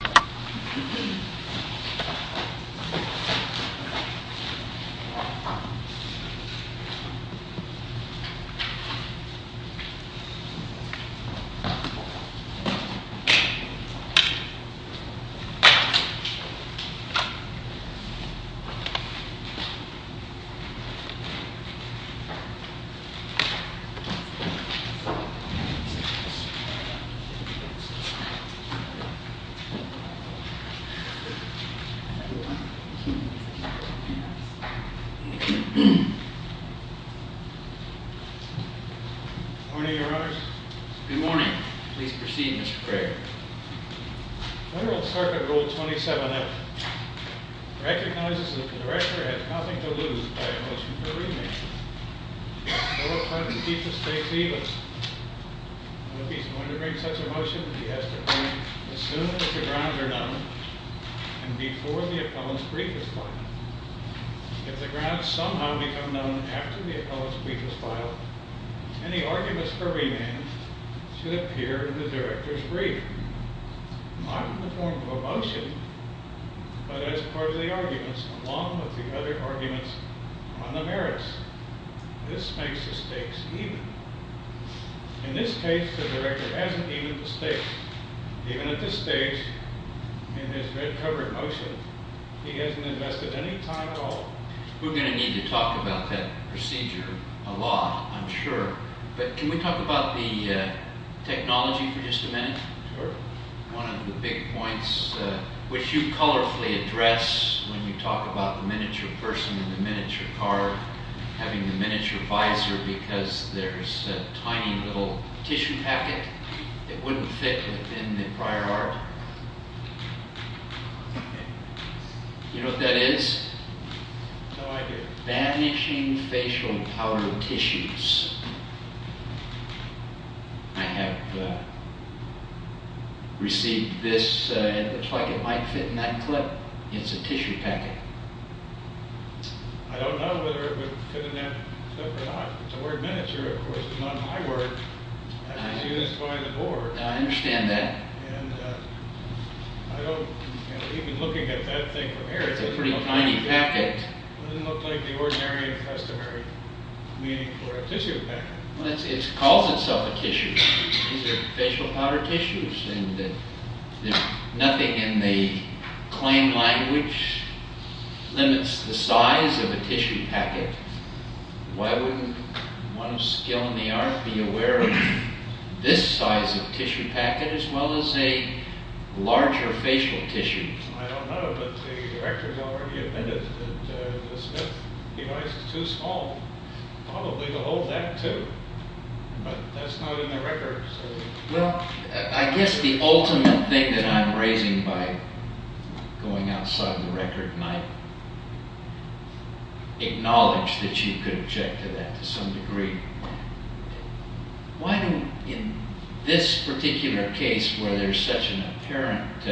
Please wear on earphones!! If you can't move your device and watch it, Please watch while dragging the screen! If you can't move your device and watch it, Please watch while dragging the screen! If the grounds are known and before the appellant's brief is filed, if the grounds somehow become known after the appellant's brief is filed, any arguments for remand should appear in the director's brief, not in the form of a motion, but as part of the arguments along with the other arguments on the merits. This makes the stakes even. In this case, the director hasn't even the stakes. Even at this stage, in his red-covered motion, he hasn't invested any time at all. We're going to need to talk about that procedure a lot, I'm sure. But can we talk about the technology for just a minute? Sure. One of the big points which you colorfully address when you talk about the miniature person and the miniature car, having the miniature visor because there's a tiny little tissue packet. It wouldn't fit within the prior art. You know what that is? No idea. Vanishing facial powder tissues. I have received this and it looks like it might fit in that clip. It's a tissue packet. I don't know whether it would fit in that clip or not. It's a word miniature, of course, but not my word. As soon as you find the door. I understand that. And I don't, even looking at that thing from here. It's a pretty tiny packet. It doesn't look like the ordinary and customary meaning for a tissue packet. It calls itself a tissue. These are facial powder tissues. Nothing in the claim language limits the size of a tissue packet. Why wouldn't one of skill in the art be aware of this size of tissue packet as well as a larger facial tissue? I don't know, but the director has already admitted that the Smith device is too small probably to hold that too. But that's not in the record. Well, I guess the ultimate thing that I'm raising by going outside of the record, and I acknowledge that you could object to that to some degree. Why do, in this particular case where there's such an apparent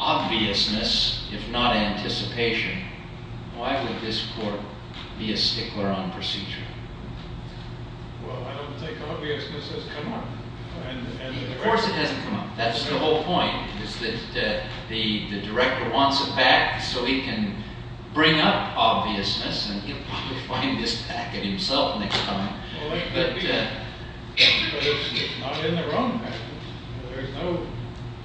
obviousness, if not anticipation, why would this court be a stickler on procedure? Well, I don't think obviousness has come up. Of course it hasn't come up. That's the whole point, is that the director wants it back so he can bring up obviousness and he'll probably find this packet himself next time. But it's not in the record. There's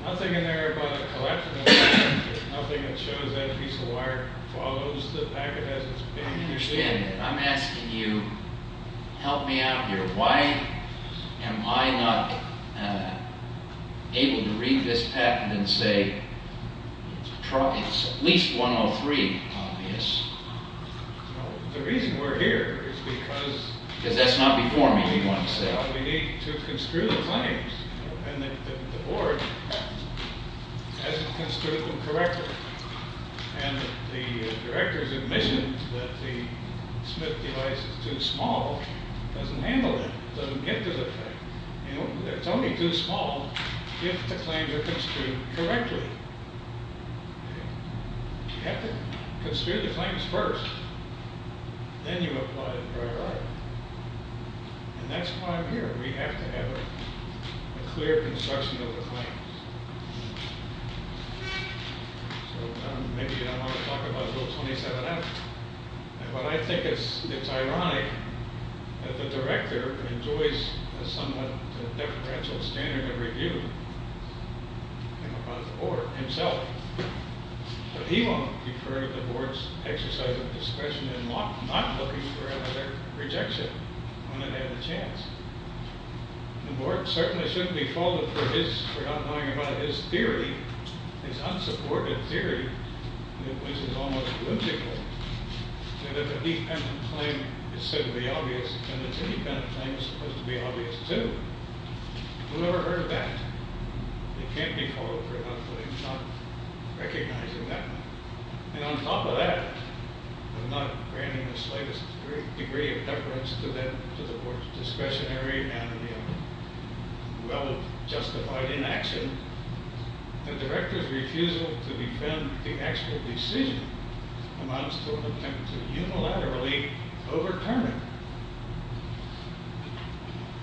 nothing in there about a collection of packets. There's nothing that shows that a piece of wire follows the packet as it's being used. Again, I'm asking you to help me out here. Why am I not able to read this packet and say it's at least 103 obvious? Well, the reason we're here is because... Because that's not before me, you want to say. Well, we need to construe the claims and the board hasn't construed them correctly. And the director's admission that the Smith device is too small doesn't handle that. It doesn't get to the thing. It's only too small if the claims are construed correctly. You have to construe the claims first. Then you apply the prior art. And that's why I'm here. We have to have a clear construction of the claims. So, maybe you don't want to talk about Bill 27-F. But I think it's ironic that the director enjoys a somewhat deferential standard of review about the board himself. But he won't prefer the board's exercise of discretion in not looking for another rejection when it had a chance. The board certainly shouldn't be faulted for not knowing about his theory, his unsupported theory, which is almost political, that if a dependent claim is said to be obvious, then the dependent claim is supposed to be obvious, too. Who ever heard of that? They can't be faulted for not recognizing that. And on top of that, of not granting the slightest degree of deference to the board's discretionary and well-justified inaction, the director's refusal to defend the actual decision amounts to an attempt to unilaterally overturn it,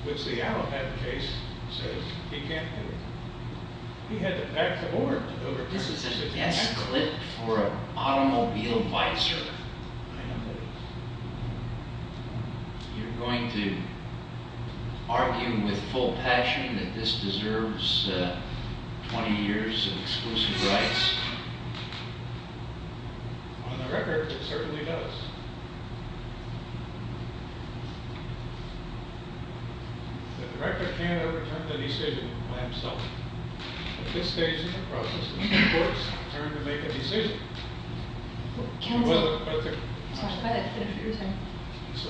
which the Allapatt case says he can't do. He had the back of the board to overturn the decision. This is a dense cliff for an automobile vicer. You're going to argue with full passion that this deserves 20 years of exclusive rights? On the record, it certainly does. The director can't overturn the decision by himself. At this stage in the process, it's the court's turn to make a decision. So,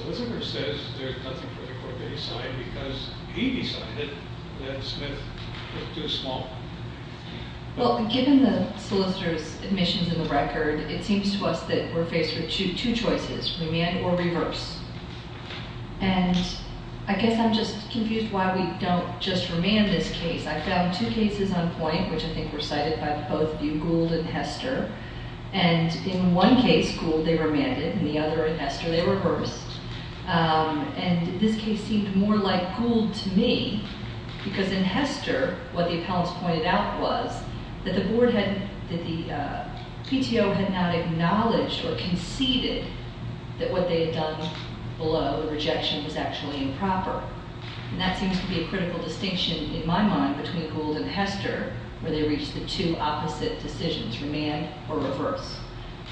whatever it says, there's nothing for the court to decide because he decided that Smith was too small. Well, given the solicitor's admissions in the record, it seems to us that we're faced with two choices, remand or reverse. And I guess I'm just confused why we don't just remand this case. I found two cases on point, which I think were cited by both of you, Gould and Hester. And in one case, Gould, they remanded. In the other, in Hester, they reversed. And this case seemed more like Gould to me because in Hester, what the appellants pointed out was that the PTO had not acknowledged or conceded that what they had done below the rejection was actually improper. And that seems to be a critical distinction, in my mind, between Gould and Hester, where they reached the two opposite decisions, remand or reverse.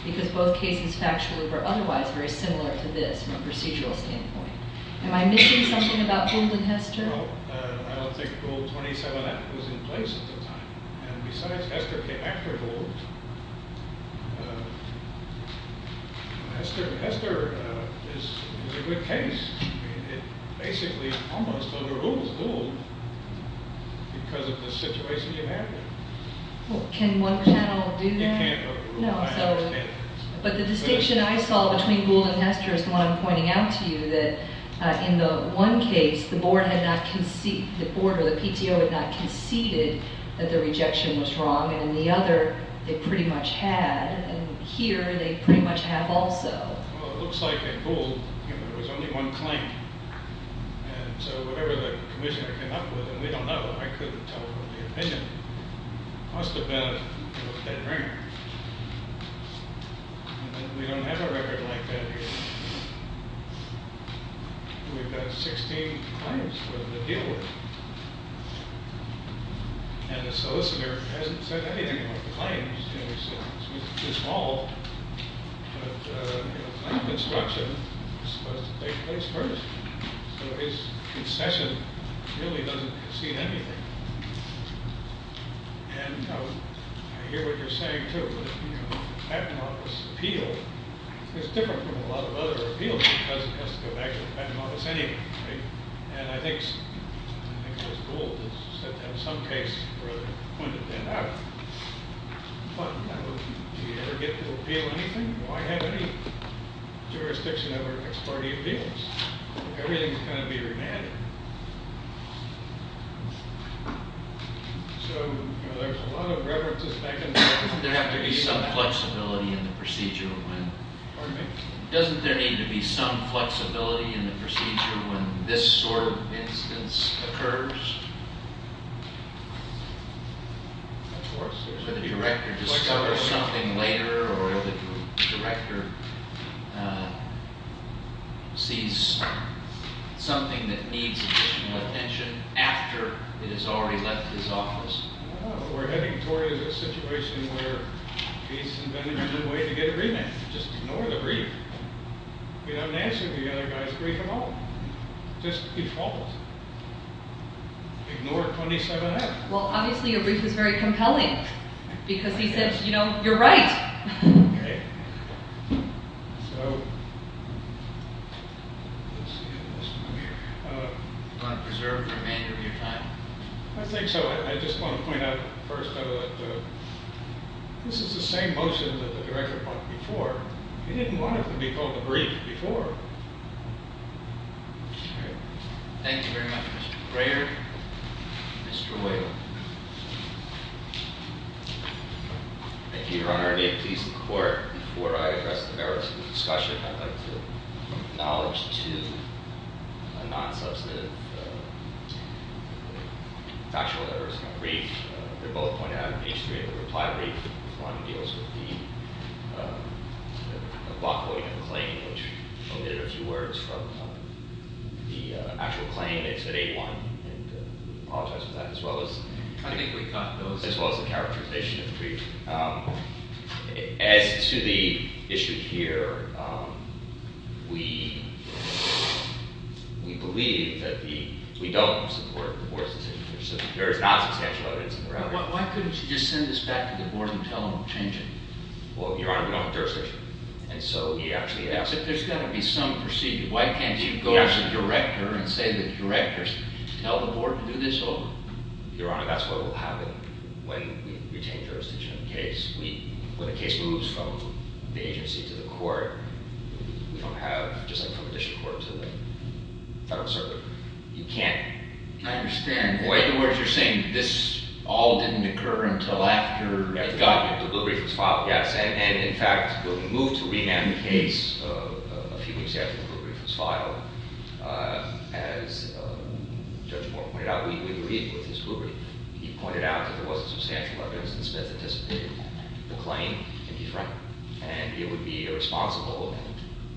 Because both cases, factually, were otherwise very similar to this from a procedural standpoint. Am I missing something about Gould and Hester? No, I don't think Gould 27F was in place at the time. And besides, Hester came after Gould. Hester is a good case. I mean, it basically almost overrules Gould because of the situation you have there. Well, can one channel do that? No. But the distinction I saw between Gould and Hester is the one I'm pointing out to you, that in the one case, the board or the PTO had not conceded that the rejection was wrong. And in the other, they pretty much had. And here, they pretty much have also. Well, it looks like at Gould, there was only one claim. And so whatever the commissioner came up with, and we don't know. I couldn't tell from the opinion. It must have been a dead ringer. We don't have a record like that here. We've got 16 claims for them to deal with. And the solicitor hasn't said anything about the claims. It's too small. But the construction is supposed to take place first. So his concession really doesn't concede anything. And I hear what you're saying, too. The patent office appeal is different from a lot of other appeals because it has to go back to the patent office anyway. And I think it was Gould who said that in some case, or pointed that out. Do you ever get to appeal anything? Do I have any jurisdiction over ex parte appeals? Everything's going to be remanded. So there's a lot of references back and forth. Doesn't there have to be some flexibility in the procedure when... Pardon me? Doesn't there need to be some flexibility in the procedure when this sort of instance occurs? Of course. The director discovers something later or the director sees something that needs additional attention after it has already left his office. We're heading toward a situation where he's invented a new way to get a remand. Just ignore the brief. You don't answer the other guy's brief at all. Just default. Ignore 27-F. Well, obviously a brief is very compelling because he says, you know, you're right. Do you want to preserve the remainder of your time? I think so. I just want to point out first that this is the same motion that the director brought before. He didn't want it to be called a brief before. Thank you very much, Mr. Crayer. Mr. Whalen. Thank you, Your Honor. May it please the Court, before I address the merits of the discussion, I'd like to acknowledge two non-substantive factual errors in the brief. They're both pointed out in page 3 of the reply brief. One deals with the block voting of the claim, which omitted a few words from the actual claim. It's at 8-1. I apologize for that, as well as the characterization of the brief. As to the issue here, we believe that we don't support the board's decision. There is non-substantial evidence in the reply brief. Why couldn't you just send this back to the board and tell them to change it? Well, Your Honor, we don't have jurisdiction. And so there's got to be some procedure. Why can't you go to the director and say to the director, tell the board to do this over? Your Honor, that's what will happen when we retain jurisdiction in the case. When a case moves from the agency to the court, we don't have, just like from the district court to the federal circuit, you can't... I understand. In other words, you're saying this all didn't occur until after the brief was filed? Yes. And, in fact, we'll be moved to rename the case a few weeks after the brief was filed. As Judge Moore pointed out, we agree with his rubric. He pointed out that there wasn't substantial evidence, and Smith anticipated the claim. And he's right. And it would be irresponsible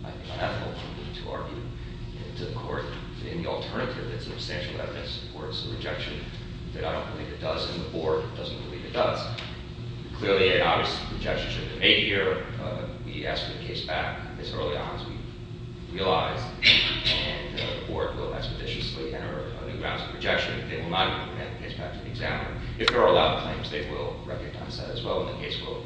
and unethical to argue to the court. In the alternative, it's substantial evidence, or it's a rejection that I don't believe it does, and the board doesn't believe it does. Clearly, an obvious rejection shouldn't have been made here. We asked for the case back as early on as we realized. And the board will expeditiously enter a new round of rejection if they will not hand the case back to the examiner. If there are a lot of claims, they will recognize that as well, and the case will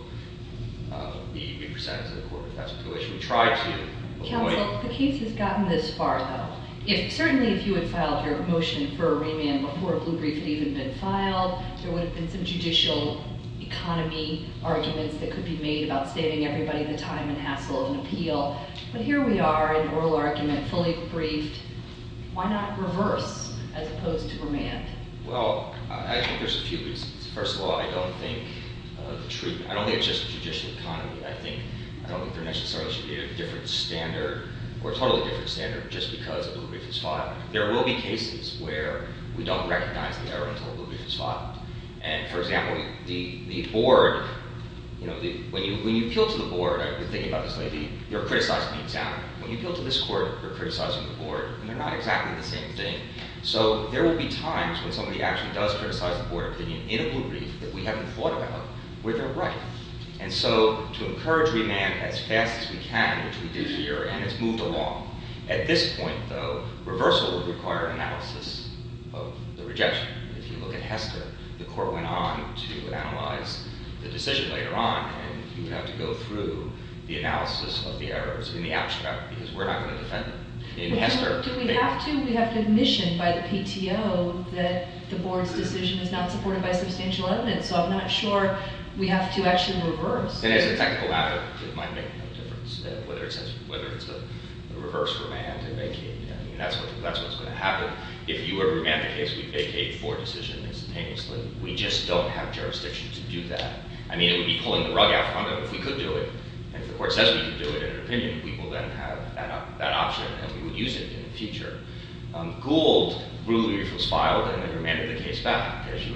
be presented to the court. That's the situation we try to avoid. Counsel, the case has gotten this far, though. Certainly, if you had filed your motion for a remand before a blue brief had even been filed, there would have been some judicial economy arguments that could be made about saving everybody the time and hassle of an appeal. But here we are, an oral argument, fully briefed. Why not reverse as opposed to remand? Well, I think there's a few reasons. First of all, I don't think the truth – I don't think it's just judicial economy. I think – I don't think there necessarily should be a different standard or a totally different standard just because a blue brief is filed. There will be cases where we don't recognize the error until a blue brief is filed. And, for example, the board – when you appeal to the board, you're thinking about this lady, you're criticizing the examiner. When you appeal to this court, you're criticizing the board, and they're not exactly the same thing. So there will be times when somebody actually does criticize the board opinion in a blue brief that we haven't thought about where they're right. And so to encourage remand as fast as we can, which we did here, and it's moved along. At this point, though, reversal would require analysis of the rejection. If you look at Hester, the court went on to analyze the decision later on, and you would have to go through the analysis of the errors in the abstract because we're not going to defend them. In Hester – Do we have to? We have to admission by the PTO that the board's decision is not supported by substantial evidence. So I'm not sure we have to actually reverse. And as a technical matter, it might make no difference whether it's a reverse remand and vacate. I mean, that's what's going to happen. If you were to remand the case, we'd vacate for a decision instantaneously. We just don't have jurisdiction to do that. I mean, it would be pulling the rug out in front of them. If we could do it, and if the court says we could do it in an opinion, we will then have that option, and we would use it in the future. Gould ruled that it was filed, and then remanded the case back, as you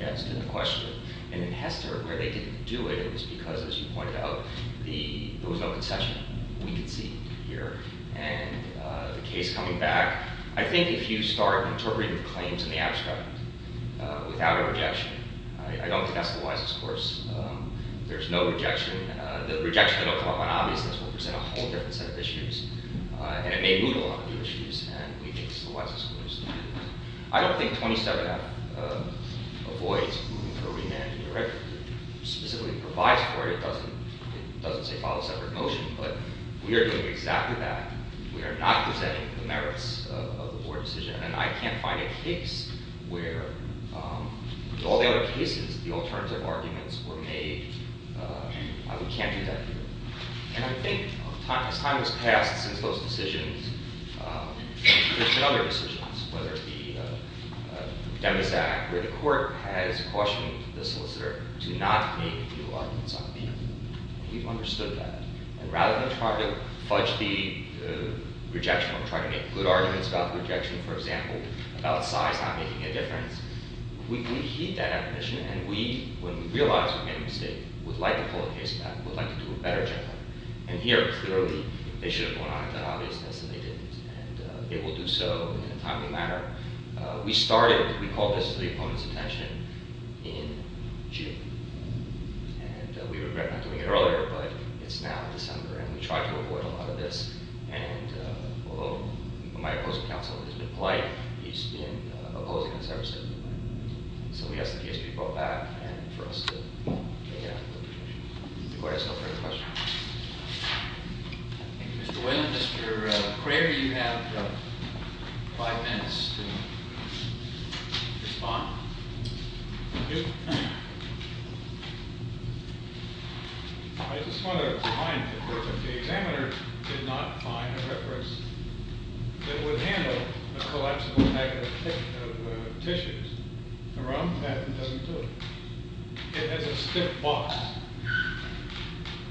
asked in the question. And in Hester, where they didn't do it, it was because, as you pointed out, there was no concession. We can see here. And the case coming back, I think if you start interpreting the claims in the abstract without a rejection, I don't think that's the wisest course. There's no rejection. The rejection that will come up on obviousness will present a whole different set of issues, and it may move a lot of new issues. And we think it's the wisest course. I don't think 27F avoids remanding the record. It specifically provides for it. It doesn't say file a separate motion. But we are doing exactly that. We are not presenting the merits of the board decision. And I can't find a case where, with all the other cases, the alternative arguments were made. We can't do that here. And I think, as time has passed since those decisions, there's been other decisions, whether it be Demas Act, where the court has cautioned the solicitor to not make new arguments on the end. We've understood that. And rather than try to fudge the rejection or try to make good arguments about the rejection, for example, about size not making a difference, we heed that admonition, and we, when we realize we've made a mistake, would like to pull the case back, would like to do a better job. And here, clearly, they should have gone on and done obviousness, and they didn't. And they will do so in a timely manner. We started, we called this the opponent's attention in June. And we regret not doing it earlier, but it's now December, and we try to avoid a lot of this. And although my opposing counsel is a bit polite, he's been opposing this ever since. So we ask that the case be brought back, and for us to make an application. The court has no further questions. Thank you, Mr. Wynn. Mr. Craver, you have five minutes to respond. Thank you. I just want to remind the court that the examiner did not find a reference that would handle a collapsible bag of tissues. The ROM patent doesn't do it. It has a stiff box.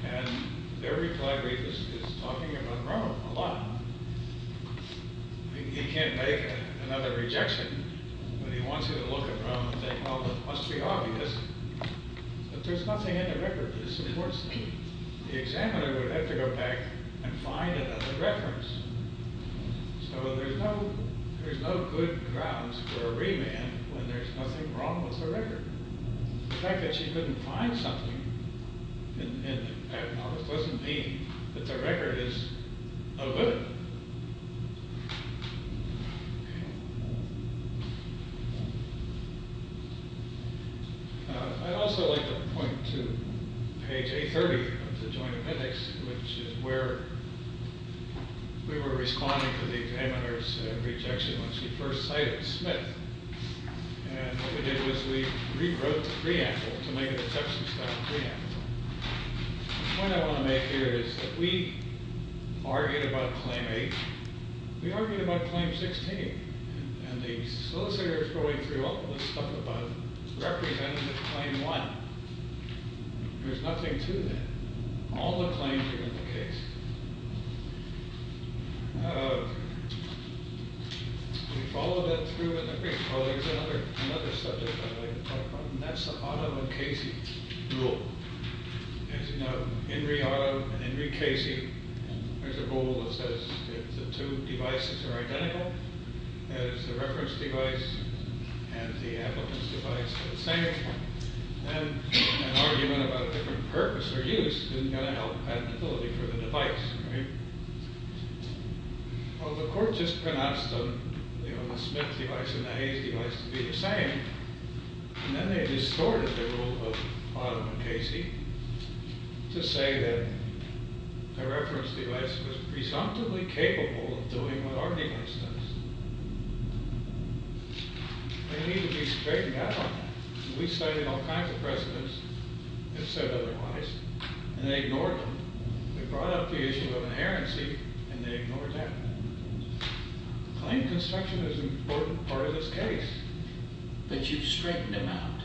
And every collaborator is talking about ROM a lot. He can't make another rejection when he wants you to look at ROM and say, well, it must be obvious. But there's nothing in the record that supports that. The examiner would have to go back and find another reference. So there's no good grounds for a remand when there's nothing wrong with the record. The fact that she couldn't find something in the patent office doesn't mean that the record is a limit. I'd also like to point to page A30 of the Joint Appendix, which is where we were responding to the examiner's rejection when she first cited Smith. And what we did was we rewrote the preamble to make it a Texas-style preamble. The point I want to make here is that we argued about Claim 8. We argued about Claim 16. And the solicitor is going through all the stuff about Representative Claim 1. There's nothing to that. All the claims are in the case. We followed that through in the brief. Well, there's another subject I'd like to talk about, and that's the Otto and Casey rule. As you know, Henry Otto and Henry Casey, there's a rule that says if the two devices are identical, that is, the reference device and the applicant's device are the same, then an argument about a different purpose or use isn't going to help patentability for the device. Well, the court just pronounced the Smith device and the Hayes device to be the same, and then they distorted the rule of Otto and Casey to say that the reference device was presumptively capable of doing what our device does. They need to be straightened out. We cited all kinds of precedents, if said otherwise, and they ignored them. They brought up the issue of inherency, and they ignored that. Claim construction is an important part of this case. But you've straightened him out.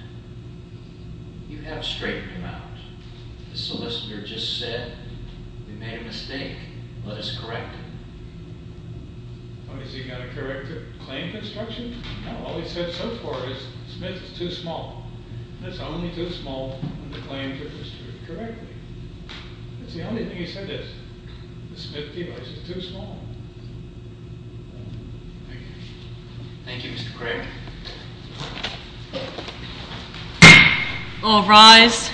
You have straightened him out. The solicitor just said we made a mistake. Let us correct him. Well, is he going to correct the claim construction? No, all he said so far is the Smith is too small. It's only too small when the claim took place correctly. That's the only thing he said is the Smith device is too small. Thank you. Thank you, Mr. Craig. All rise.